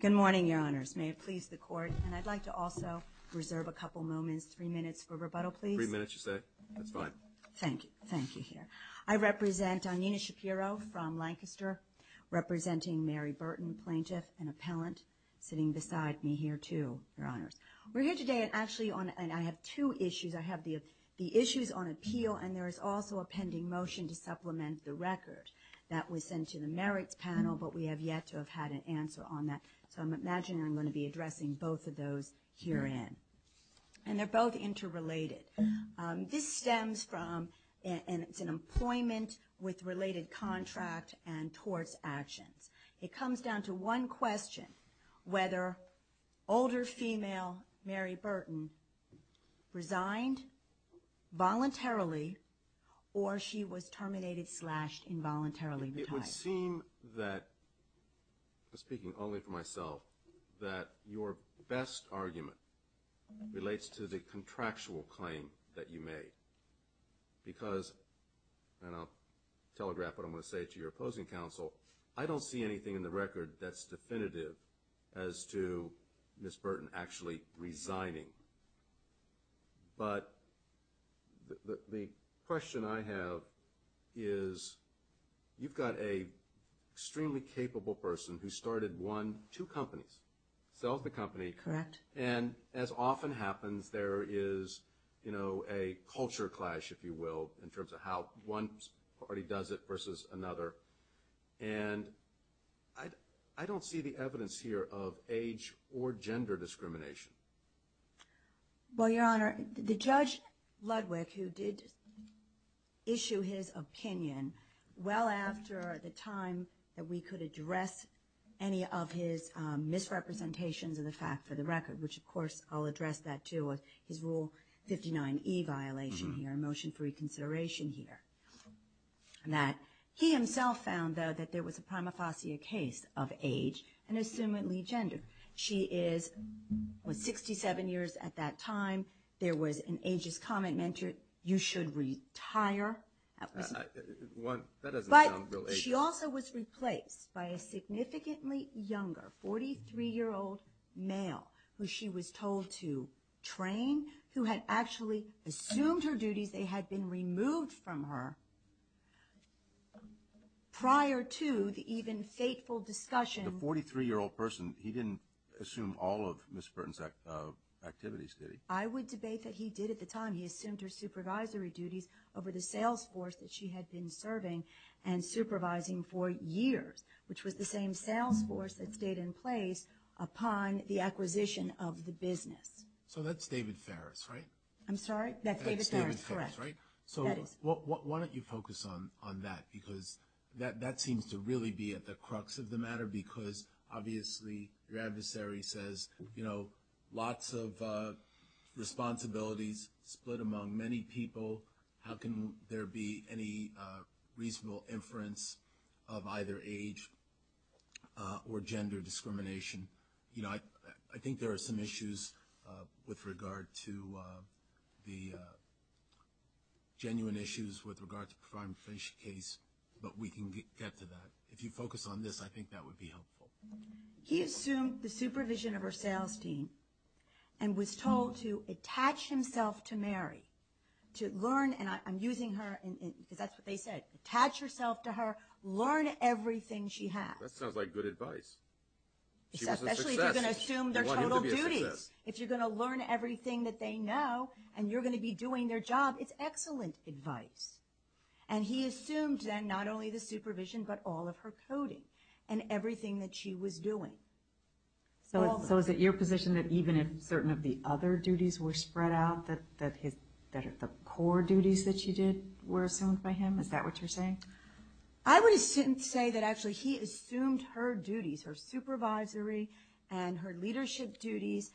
Good morning, Your Honors. May it please the Court, and I'd like to also reserve a couple moments, three minutes for rebuttal, please. Three minutes, you say? That's fine. Thank you. Thank you, here. I represent Nina Shapiro from Lancaster, representing Mary Burton, plaintiff and appellant, sitting beside me here, too, Your Honors. We're here today, and actually, I have two issues. I have the issues on appeal, and there is also a pending motion to supplement the record that was sent to the merits panel, but we have yet to have had an answer on that, so I'm imagining I'm going to be addressing both of those herein. And they're both interrelated. This stems from, and it's an employment with related contract and torts actions. It comes down to one question, whether older female Mary Burton resigned voluntarily or she was terminated, slashed, involuntarily. It would seem that, speaking only for myself, that your best argument relates to the contractual claim that you made. Because, and I'll telegraph what I'm going to say to your opposing counsel, I don't see anything in the record that's definitive as to Ms. Burton actually resigning. But the question I have is, you've got an extremely capable person who started one, two companies, sells the company. And as often happens, there is a culture clash, if you will, in terms of how one party does it versus another. And I don't see the evidence here of age or gender discrimination. Well, Your Honor, the Judge Ludwig, who did issue his opinion well after the time that we could address any of his misrepresentations of the fact for the record, which, of course, I'll address that, too, with his Rule 59e violation here, a motion for reconsideration here. And that he himself found, though, that there was a prima facie case of age and assumedly gender. She is 67 years at that time. There was an ageist comment, meant you should retire. That doesn't sound real ageist. She also was replaced by a significantly younger, 43-year-old male who she was told to train, who had actually assumed her duties. They had been removed from her prior to the even fateful discussion. The 43-year-old person, he didn't assume all of Ms. Burton's activities, did he? I would debate that he did at the time. He assumed her supervisory duties over the sales force that she had been serving and supervising for years, which was the same sales force that stayed in place upon the acquisition of the business. So that's David Farris, right? I'm sorry? That's David Farris, correct. That's David Farris, right? So why don't you focus on that? Because that seems to really be at the crux of the matter because obviously your adversary says, you know, lots of responsibilities split among many people. How can there be any reasonable inference of either age or gender discrimination? You know, I think there are some issues with regard to the genuine issues with regard to the prior and finished case, but we can get to that. If you focus on this, I think that would be helpful. He assumed the supervision of her sales team and was told to attach himself to Mary, to learn, and I'm using her because that's what they said, attach herself to her, learn everything she has. That sounds like good advice. She was a success. Especially if you're going to assume their total duties. If you're going to learn everything that they know and you're going to be doing their job, it's excellent advice. And he assumed then not only the supervision but all of her coding and everything that she was doing. So is it your position that even if certain of the other duties were spread out, that the core duties that she did were assumed by him? Is that what you're saying? I would say that actually he assumed her duties, her supervisory and her leadership duties.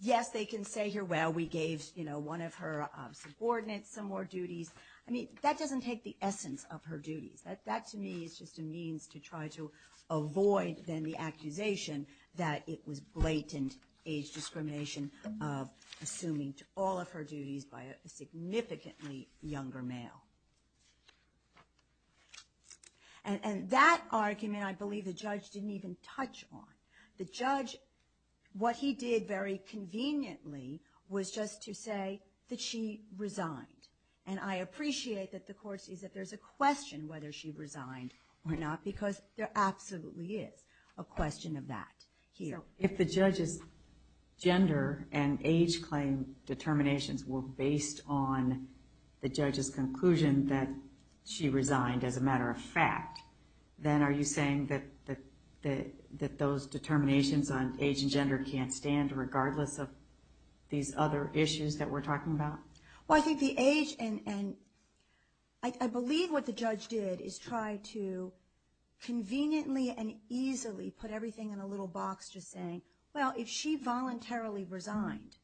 Yes, they can say here, well, we gave, you know, one of her subordinates some more duties. I mean, that doesn't take the essence of her duties. That to me is just a means to try to avoid then the accusation that it was blatant age discrimination of assuming all of her duties by a significantly younger male. And that argument I believe the judge didn't even touch on. The judge, what he did very conveniently was just to say that she resigned. And I appreciate that the court sees that there's a question whether she resigned or not, because there absolutely is a question of that here. If the judge's gender and age claim determinations were based on the judge's conclusion that she resigned as a matter of fact, then are you saying that those determinations on age and gender can't stand regardless of these other issues that we're talking about? Well, I think the age and I believe what the judge did is try to conveniently and easily put everything in a little box just saying, well, if she voluntarily resigned,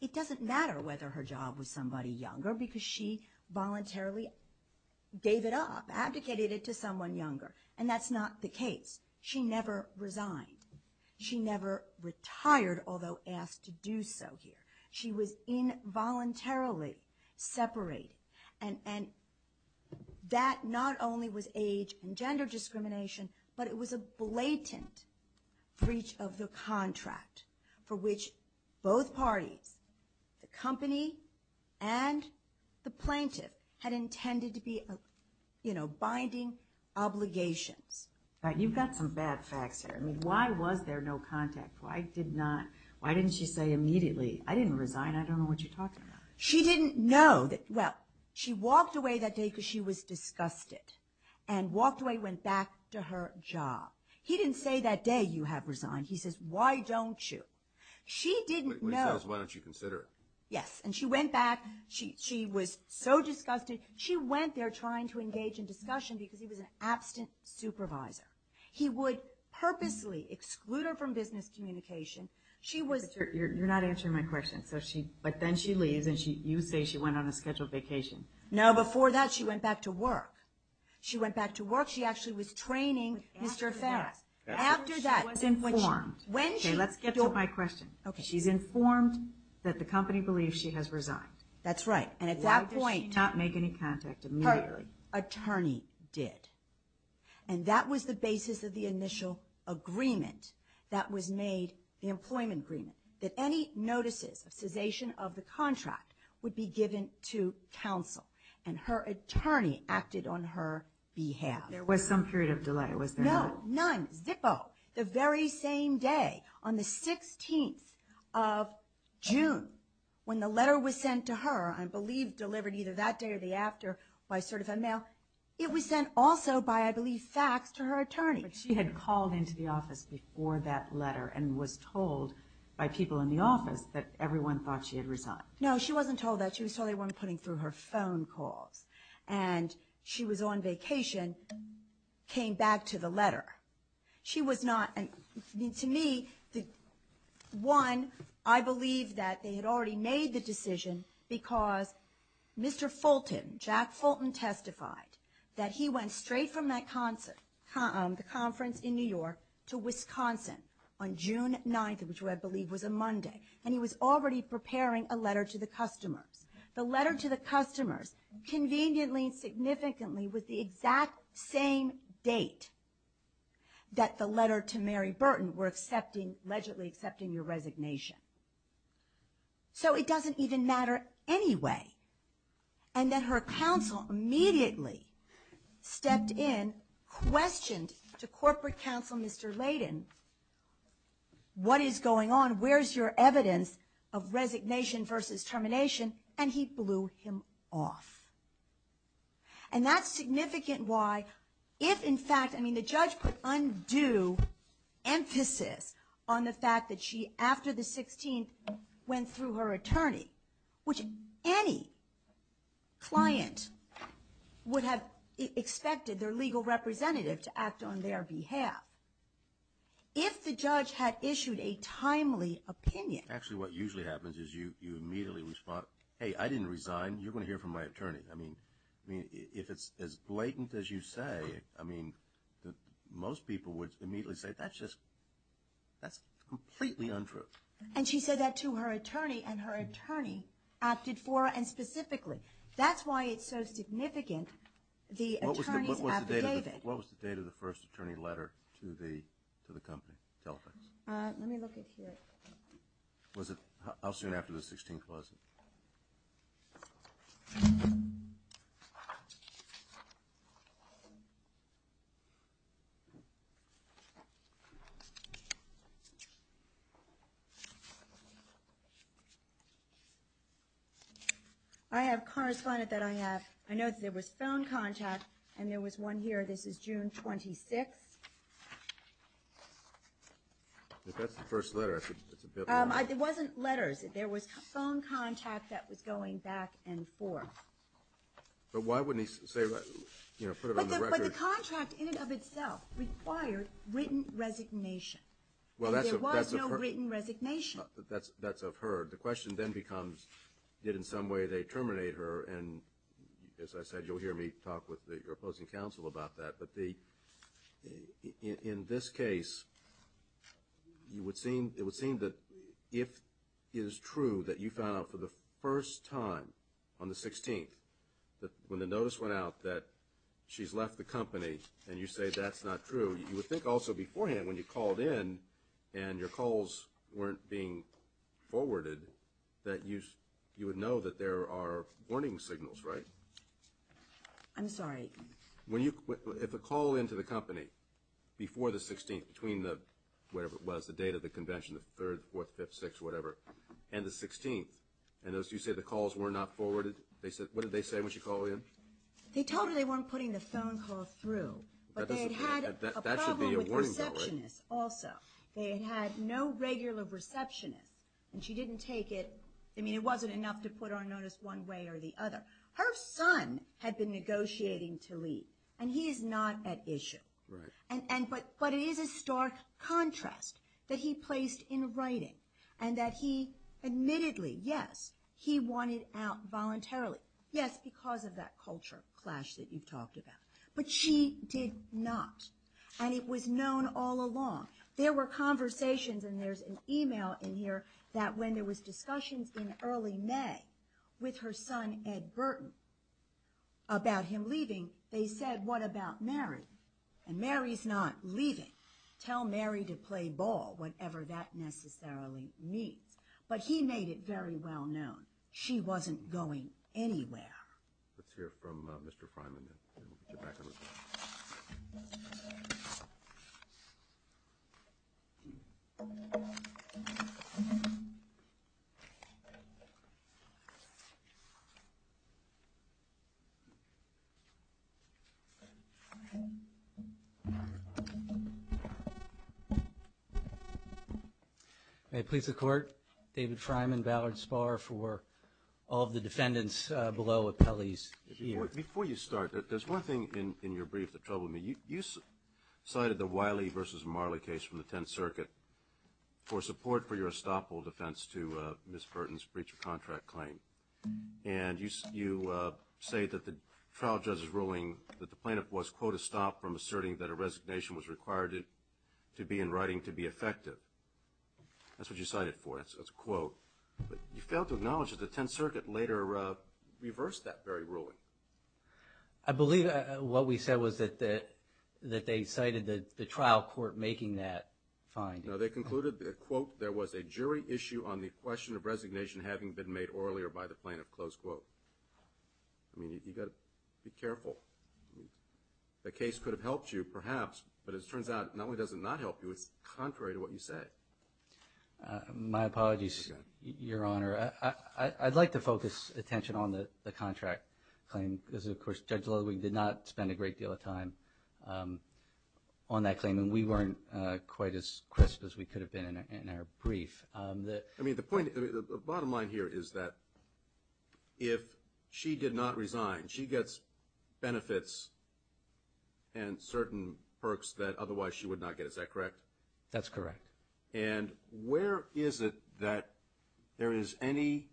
it doesn't matter whether her job was somebody younger because she voluntarily gave it up, advocated it to someone younger. And that's not the case. She never resigned. She never retired, although asked to do so here. She was involuntarily separated. And that not only was age and gender discrimination, but it was a blatant breach of the contract for which both parties, the company and the plaintiff, had intended to be binding obligations. You've got some bad facts here. I mean, why was there no contact? Why didn't she say immediately, I didn't resign, I don't know what you're talking about? She didn't know that, well, she walked away that day because she was disgusted and walked away, went back to her job. He didn't say that day you have resigned. He says, why don't you? She didn't know. He says, why don't you consider it? Yes. And she went back. She was so disgusted. She went there trying to engage in discussion because he was an absent supervisor. He would purposely exclude her from business communication. You're not answering my question. But then she leaves, and you say she went on a scheduled vacation. No, before that, she went back to work. She went back to work. She actually was training Mr. Farris. After that, she was informed. Okay, let's get to my question. She's informed that the company believes she has resigned. That's right. And at that point, her attorney did. And that was the basis of the initial agreement that was made, the employment agreement, that any notices of cessation of the contract would be given to counsel. And her attorney acted on her behalf. There was some period of delay, was there not? No, none. Zippo. The very same day, on the 16th of June, when the letter was sent to her, I believe delivered either that day or the day after by certified mail, it was sent also by, I believe, fax to her attorney. But she had called into the office before that letter and was told by people in the office that everyone thought she had resigned. No, she wasn't told that. She was the only one putting through her phone calls. And she was on vacation, came back to the letter. She was not. To me, one, I believe that they had already made the decision because Mr. Fulton, Jack Fulton testified that he went straight from that conference in New York to Wisconsin on June 9th, which I believe was a Monday, and he was already preparing a letter to the customers. The letter to the customers conveniently and significantly was the exact same date that the letter to Mary Burton were allegedly accepting your resignation. So it doesn't even matter anyway. And then her counsel immediately stepped in, questioned to corporate counsel Mr. Layden, what is going on, where's your evidence of resignation versus termination, and he blew him off. And that's significant why, if in fact, I mean, the judge put undue emphasis on the fact that she, after the 16th, went through her attorney, which any client would have expected their legal representative to act on their behalf, if the judge had issued a timely opinion. Actually, what usually happens is you immediately respond, hey, I didn't resign. You're going to hear from my attorney. I mean, if it's as blatant as you say, I mean, most people would immediately say, that's just, that's completely untrue. And she said that to her attorney, and her attorney opted for it, and specifically. That's why it's so significant, the attorney's affidavit. What was the date of the first attorney letter to the company, Telex? Let me look it here. Was it how soon after the 16th, was it? I have a correspondent that I have. I noticed there was phone contact, and there was one here. This is June 26th. If that's the first letter, it's a bit long. It wasn't letters. There was phone contact that was going back and forth. But why wouldn't he say, you know, put it on the record? But the contract in and of itself required written resignation. And there was no written resignation. That's of her. The question then becomes, did in some way they terminate her? And as I said, you'll hear me talk with your opposing counsel about that. But in this case, it would seem that if it is true that you found out for the first time on the 16th, when the notice went out that she's left the company and you say that's not true, you would think also beforehand when you called in and your calls weren't being forwarded that you would know that there are warning signals, right? I'm sorry. If a call into the company before the 16th, between the whatever it was, the date of the convention, the 3rd, 4th, 5th, 6th, whatever, and the 16th, and as you say the calls were not forwarded, what did they say when she called in? They told her they weren't putting the phone call through, but they had a problem with receptionists also. They had no regular receptionists, and she didn't take it. I mean, it wasn't enough to put our notice one way or the other. Her son had been negotiating to leave, and he is not at issue. But it is a stark contrast that he placed in writing and that he admittedly, yes, he wanted out voluntarily. Yes, because of that culture clash that you've talked about. But she did not, and it was known all along. There were conversations, and there's an email in here, that when there was discussions in early May with her son, Ed Burton, about him leaving, they said, what about Mary? And Mary's not leaving. Tell Mary to play ball, whatever that necessarily means. But he made it very well known. She wasn't going anywhere. Let's hear from Mr. Freiman. We'll get you back on record. May it please the Court, David Freiman, Ballard Spahr, for all of the defendants below appellees here. Before you start, there's one thing in your brief that troubled me. You cited the Wiley v. Marley case from the Tenth Circuit for support for your estoppel defense to Ms. Burton's breach of contract claim. And you say that the trial judge's ruling that the plaintiff was, quote, a stop from asserting that a resignation was required to be in writing to be effective. That's a quote. But you failed to acknowledge that the Tenth Circuit later reversed that very ruling. I believe what we said was that they cited the trial court making that finding. No, they concluded that, quote, there was a jury issue on the question of resignation having been made earlier by the plaintiff, close quote. I mean, you've got to be careful. The case could have helped you, perhaps, but it turns out not only does it not help you, it's contrary to what you say. My apologies, Your Honor. I'd like to focus attention on the contract claim because, of course, Judge Ludwig did not spend a great deal of time on that claim and we weren't quite as crisp as we could have been in our brief. I mean, the bottom line here is that if she did not resign, she gets benefits and certain perks that otherwise she would not get. Is that correct? That's correct. And where is it that there is any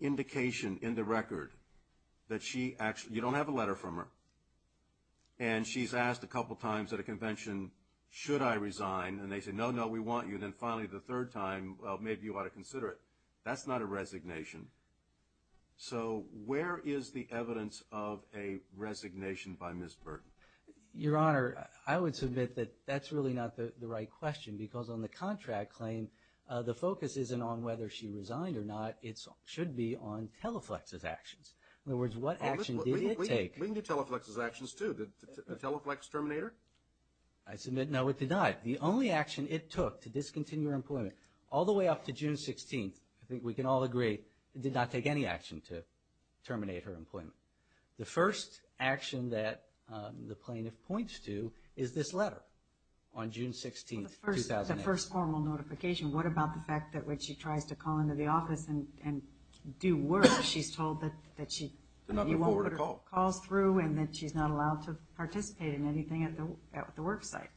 indication in the record that she actually, you don't have a letter from her, and she's asked a couple times at a convention, should I resign? And they say, no, no, we want you. Then finally the third time, well, maybe you ought to consider it. That's not a resignation. So where is the evidence of a resignation by Ms. Burton? Your Honor, I would submit that that's really not the right question because on the contract claim, the focus isn't on whether she resigned or not. It should be on Teleflex's actions. In other words, what action did it take? We can do Teleflex's actions, too. Did Teleflex terminate her? I submit, no, it did not. The only action it took to discontinue her employment all the way up to June 16th, I think we can all agree, it did not take any action to terminate her employment. The first action that the plaintiff points to is this letter on June 16th, 2008. The first formal notification. What about the fact that when she tries to call into the office and do work, she's told that she calls through and that she's not allowed to participate in anything at the work site?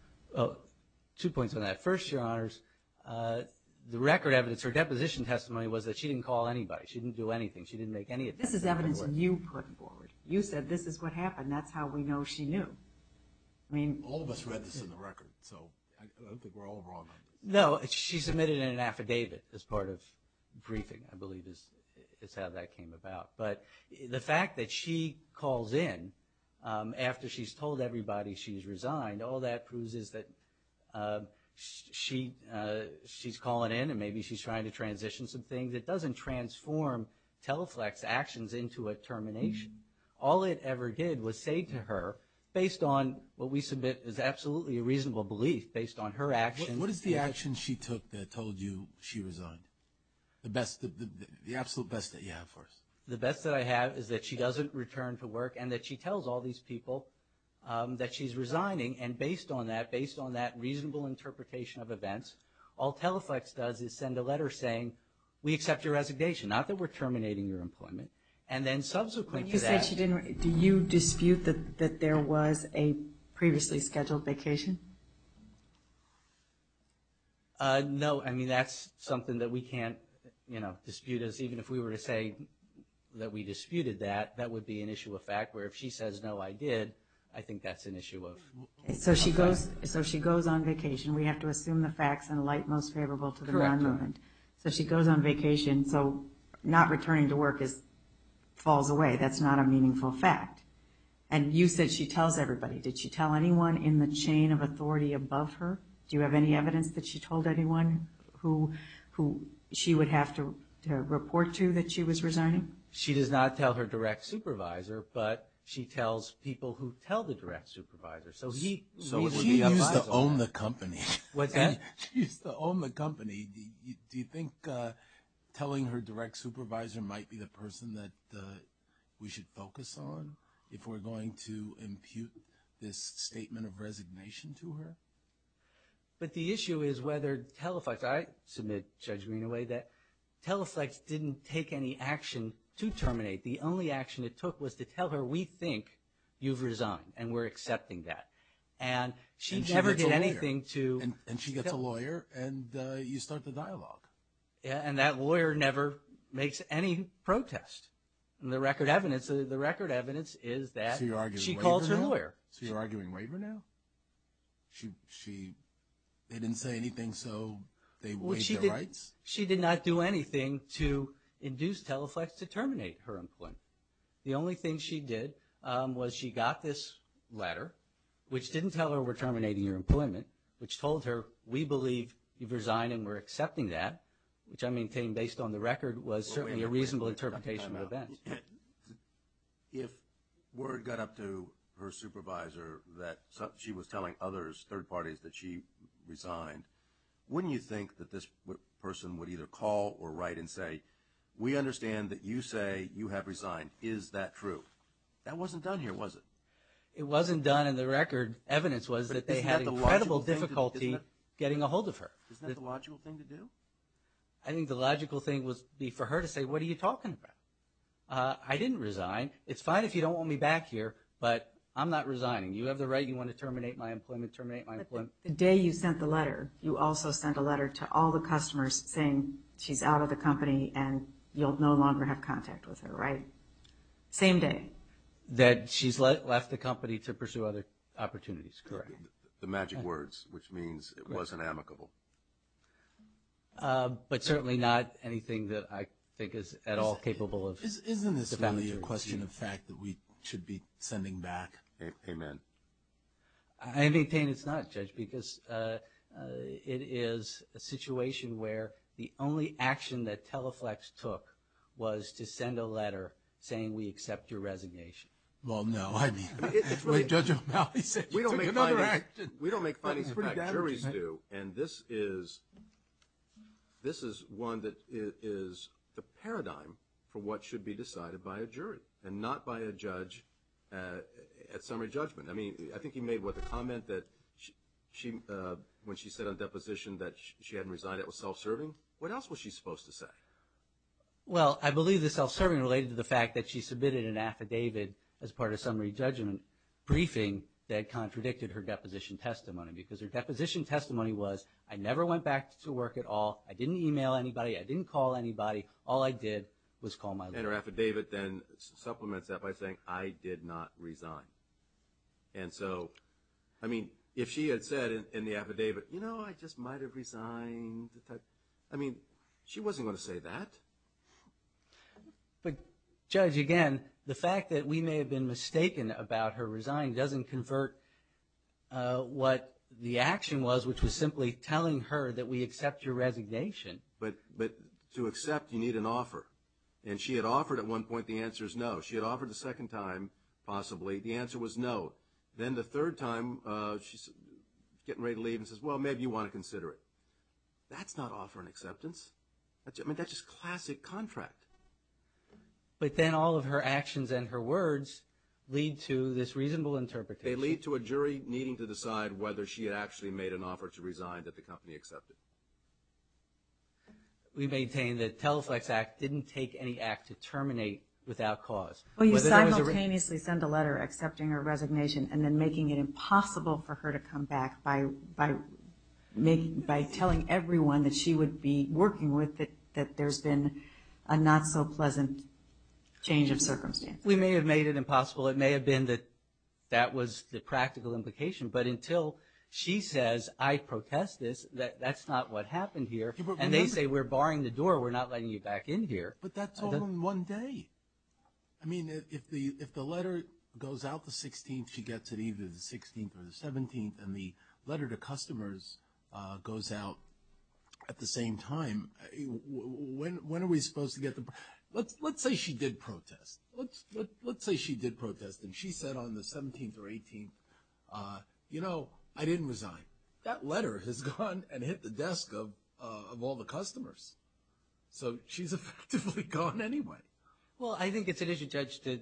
Two points on that. First, Your Honors, the record evidence, her deposition testimony, was that she didn't call anybody. She didn't do anything. She didn't make any attempts. This is evidence you put forward. You said this is what happened. That's how we know she knew. All of us read this in the record, so I don't think we're all wrong on this. No, she submitted an affidavit as part of briefing, I believe is how that came about. But the fact that she calls in after she's told everybody she's resigned, all that proves is that she's calling in and maybe she's trying to transition some things. It doesn't transform Teleflex actions into a termination. All it ever did was say to her, based on what we submit is absolutely a reasonable belief, based on her actions. What is the action she took that told you she resigned? The absolute best that you have for us. The best that I have is that she doesn't return to work and that she tells all these people that she's resigning, and based on that reasonable interpretation of events, all Teleflex does is send a letter saying we accept your resignation, not that we're terminating your employment. And then subsequently to that. You said she didn't. Do you dispute that there was a previously scheduled vacation? No, I mean, that's something that we can't dispute. Even if we were to say that we disputed that, that would be an issue of fact, where if she says, no, I did, I think that's an issue of fact. So she goes on vacation. We have to assume the facts in a light most favorable to the non-movement. So she goes on vacation. So not returning to work falls away. That's not a meaningful fact. And you said she tells everybody. Did she tell anyone in the chain of authority above her? Do you have any evidence that she told anyone who she would have to report to that she was resigning? She does not tell her direct supervisor, but she tells people who tell the direct supervisor. So she used to own the company. What's that? She used to own the company. Do you think telling her direct supervisor might be the person that we should focus on if we're going to impute this statement of resignation to her? But the issue is whether TELEFLEX, I submit, Judge Greenaway, that TELEFLEX didn't take any action to terminate. The only action it took was to tell her, we think you've resigned, and we're accepting that. And she never did anything to – And she gets a lawyer, and you start the dialogue. And that lawyer never makes any protest. And the record evidence is that she calls her lawyer. So you're arguing waiver now? They didn't say anything, so they waived their rights? She did not do anything to induce TELEFLEX to terminate her employment. The only thing she did was she got this letter, which didn't tell her we're terminating your employment, which told her we believe you've resigned and we're accepting that, which I maintain based on the record was certainly a reasonable interpretation of events. If word got up to her supervisor that she was telling others, third parties, that she resigned, wouldn't you think that this person would either call or write and say, we understand that you say you have resigned. Is that true? That wasn't done here, was it? It wasn't done in the record. Evidence was that they had incredible difficulty getting a hold of her. Isn't that the logical thing to do? I think the logical thing would be for her to say, what are you talking about? I didn't resign. It's fine if you don't want me back here, but I'm not resigning. You have the right. You want to terminate my employment, terminate my employment. The day you sent the letter, you also sent a letter to all the customers saying she's out of the company and you'll no longer have contact with her, right? Same day. That she's left the company to pursue other opportunities, correct. The magic words, which means it wasn't amicable. But certainly not anything that I think is at all capable of debouncing. Isn't this really a question of fact that we should be sending back? Amen. I maintain it's not, Judge, because it is a situation where the only action that Teleflex took was to send a letter saying we accept your resignation. Well, no, I mean, Judge O'Malley said you took another action. We don't make findings of fact. Juries do, and this is one that is the paradigm for what should be decided by a jury and not by a judge at summary judgment. I mean, I think he made the comment that when she said on deposition that she hadn't resigned, it was self-serving. What else was she supposed to say? Well, I believe the self-serving related to the fact that she submitted an affidavit as part of summary judgment briefing that contradicted her deposition testimony, because her deposition testimony was I never went back to work at all. I didn't email anybody. I didn't call anybody. All I did was call my lawyer. And her affidavit then supplements that by saying I did not resign. And so, I mean, if she had said in the affidavit, you know, I just might have resigned, I mean, she wasn't going to say that. But, Judge, again, the fact that we may have been mistaken about her resigning doesn't convert what the action was, which was simply telling her that we accept your resignation. But to accept, you need an offer. And she had offered at one point the answer is no. She had offered the second time, possibly, the answer was no. Then the third time, she's getting ready to leave and says, well, maybe you want to consider it. That's not offering acceptance. I mean, that's just classic contract. But then all of her actions and her words lead to this reasonable interpretation. They lead to a jury needing to decide whether she had actually made an offer to resign that the company accepted. We maintain that the Teleflex Act didn't take any act to terminate without cause. Well, you simultaneously send a letter accepting her resignation and then making it impossible for her to come back by telling everyone that she would be working with that there's been a not-so-pleasant change of circumstance. We may have made it impossible. It may have been that that was the practical implication. But until she says, I protest this, that's not what happened here. And they say, we're barring the door, we're not letting you back in here. But that's all in one day. I mean, if the letter goes out the 16th, she gets it either the 16th or the 17th, and the letter to customers goes out at the same time, when are we supposed to get the – Let's say she did protest. Let's say she did protest and she said on the 17th or 18th, you know, I didn't resign. That letter has gone and hit the desk of all the customers. So she's effectively gone anyway. Well, I think it's an issue, Judge, that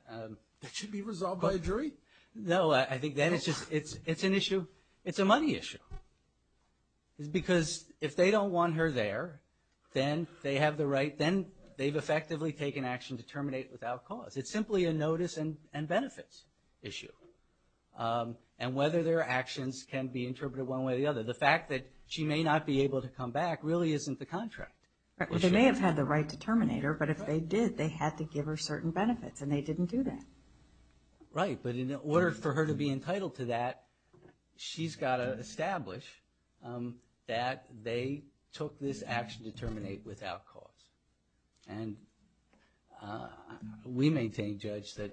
– That should be resolved by a jury. No, I think that it's an issue. It's a money issue. Because if they don't want her there, then they have the right – then they've effectively taken action to terminate without cause. It's simply a notice and benefits issue, and whether their actions can be interpreted one way or the other. The fact that she may not be able to come back really isn't the contract. They may have had the right to terminate her, but if they did they had to give her certain benefits, and they didn't do that. Right, but in order for her to be entitled to that, she's got to establish that they took this action to terminate without cause. And we maintain, Judge, that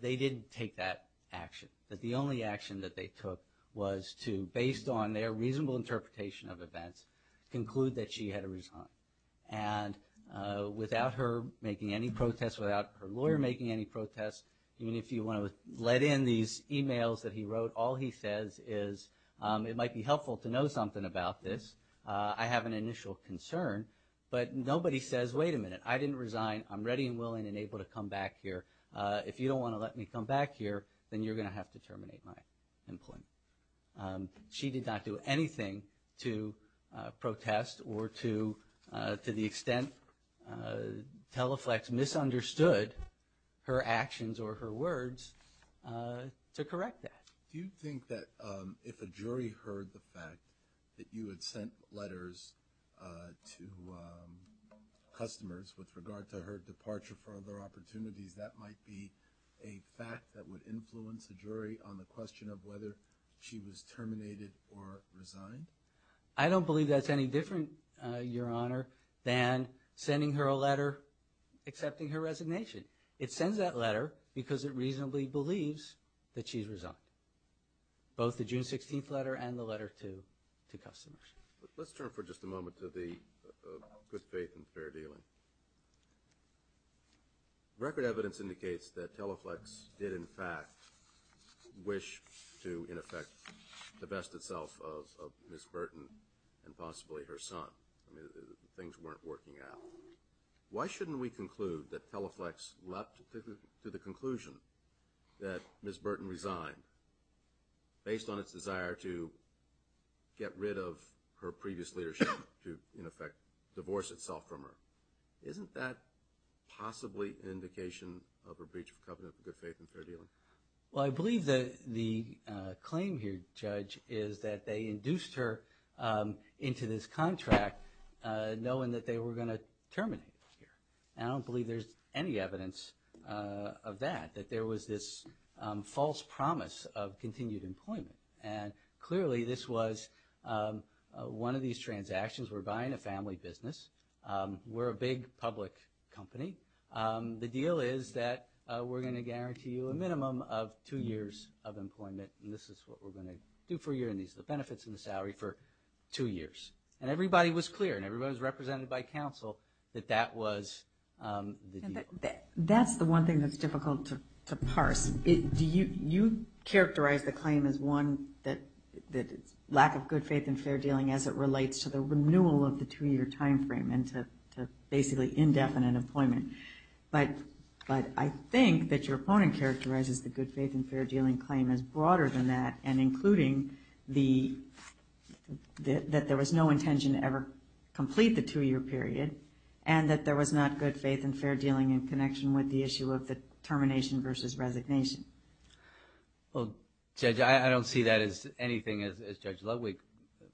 they didn't take that action, that the only action that they took was to, based on their reasonable interpretation of events, conclude that she had to resign. And without her making any protests, without her lawyer making any protests, even if you want to let in these e-mails that he wrote, all he says is, it might be helpful to know something about this. I have an initial concern, but nobody says, wait a minute, I didn't resign. I'm ready and willing and able to come back here. If you don't want to let me come back here, then you're going to have to terminate my employment. She did not do anything to protest or to the extent Teleflex misunderstood her actions or her words to correct that. Do you think that if a jury heard the fact that you had sent letters to customers with regard to her departure for other opportunities, that might be a fact that would influence a jury on the question of whether she was terminated or resigned? I don't believe that's any different, Your Honor, than sending her a letter accepting her resignation. It sends that letter because it reasonably believes that she's resigned, both the June 16th letter and the letter to customers. Let's turn for just a moment to the good faith and fair dealing. Record evidence indicates that Teleflex did in fact wish to, in effect, divest itself of Ms. Burton and possibly her son. Things weren't working out. Why shouldn't we conclude that Teleflex leapt to the conclusion that Ms. Burton resigned based on its desire to get rid of her previous leadership to, in effect, divorce itself from her? Isn't that possibly an indication of a breach of covenant of good faith and fair dealing? Well, I believe that the claim here, Judge, is that they induced her into this contract knowing that they were going to terminate her. And I don't believe there's any evidence of that, that there was this false promise of continued employment. And clearly this was one of these transactions. We're buying a family business. We're a big public company. The deal is that we're going to guarantee you a minimum of two years of employment, and this is what we're going to do for you, and these are the benefits and the salary for two years. And everybody was clear and everybody was represented by counsel that that was the deal. That's the one thing that's difficult to parse. You characterize the claim as one that it's lack of good faith and fair dealing as it relates to the renewal of the two-year time frame and to basically indefinite employment. But I think that your opponent characterizes the good faith and fair dealing claim as broader than that and including that there was no intention to ever complete the two-year period and that there was not good faith and fair dealing in connection with the issue of the termination versus resignation. Well, Judge, I don't see that as anything, as Judge Ludwig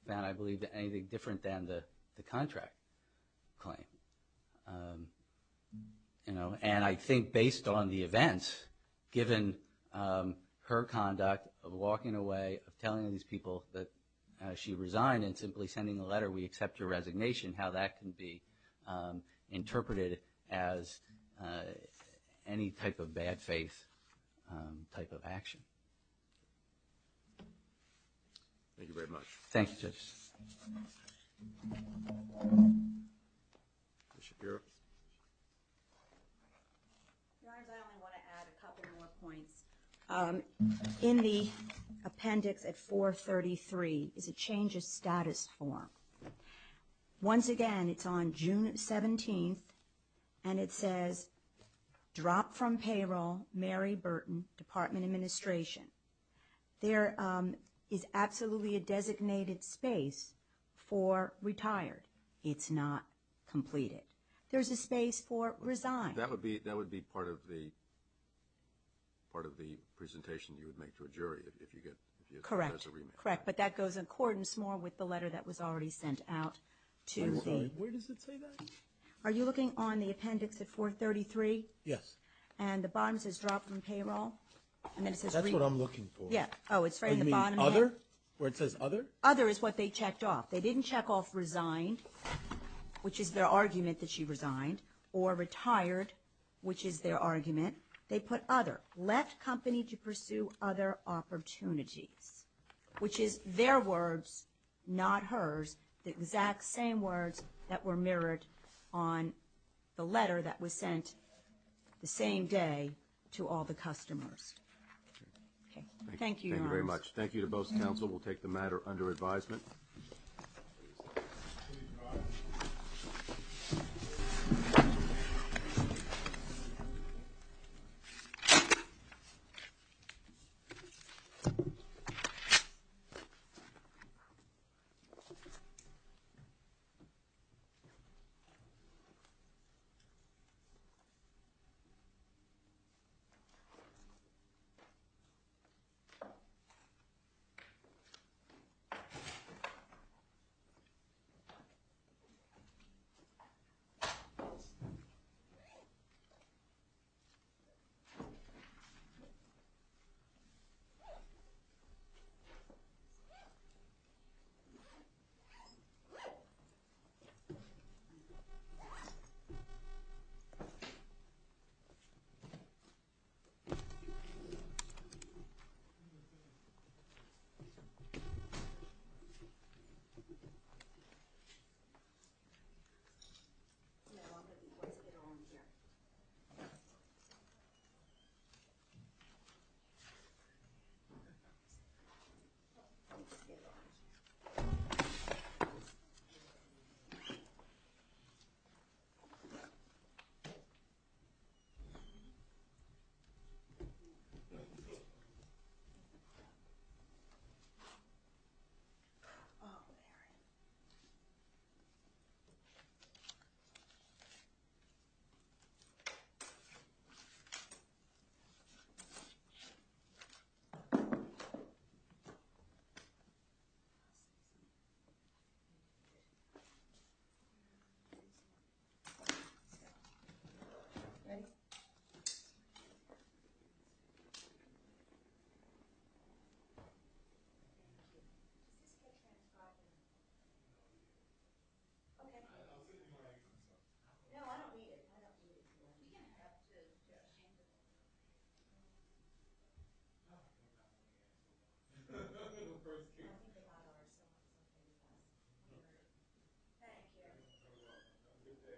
found, I believe, anything different than the contract claim. And I think based on the events, given her conduct of walking away, of telling these people that she resigned and simply sending a letter, we accept your resignation, how that can be interpreted as any type of bad faith type of action. Thank you very much. Thank you, Judge. Ms. Shapiro. Your Honor, I only want to add a couple more points. In the appendix at 433 is a change of status form. Once again, it's on June 17th, and it says, drop from payroll, Mary Burton, Department of Administration. There is absolutely a designated space for retired. It's not completed. There's a space for resign. That would be part of the presentation you would make to a jury if you get a remand. Correct. Correct. But that goes in accordance more with the letter that was already sent out to the – I'm sorry. Where does it say that? Are you looking on the appendix at 433? Yes. And the bottom says drop from payroll, and then it says – That's what I'm looking for. Yeah. Oh, it's right in the bottom. You mean other, where it says other? Other is what they checked off. They didn't check off resign, which is their argument that she resigned, or retired, which is their argument. They put other. Left company to pursue other opportunities, which is their words, not hers, the exact same words that were mirrored on the letter that was sent the same day to all the customers. Okay. Thank you, Your Honors. Thank you very much. Thank you to both counsel. We'll take the matter under advisement. Thank you. Oh, there it is. Ready? Thank you. Thank you. You're welcome. Have a good day. Thanks a lot. Thank you.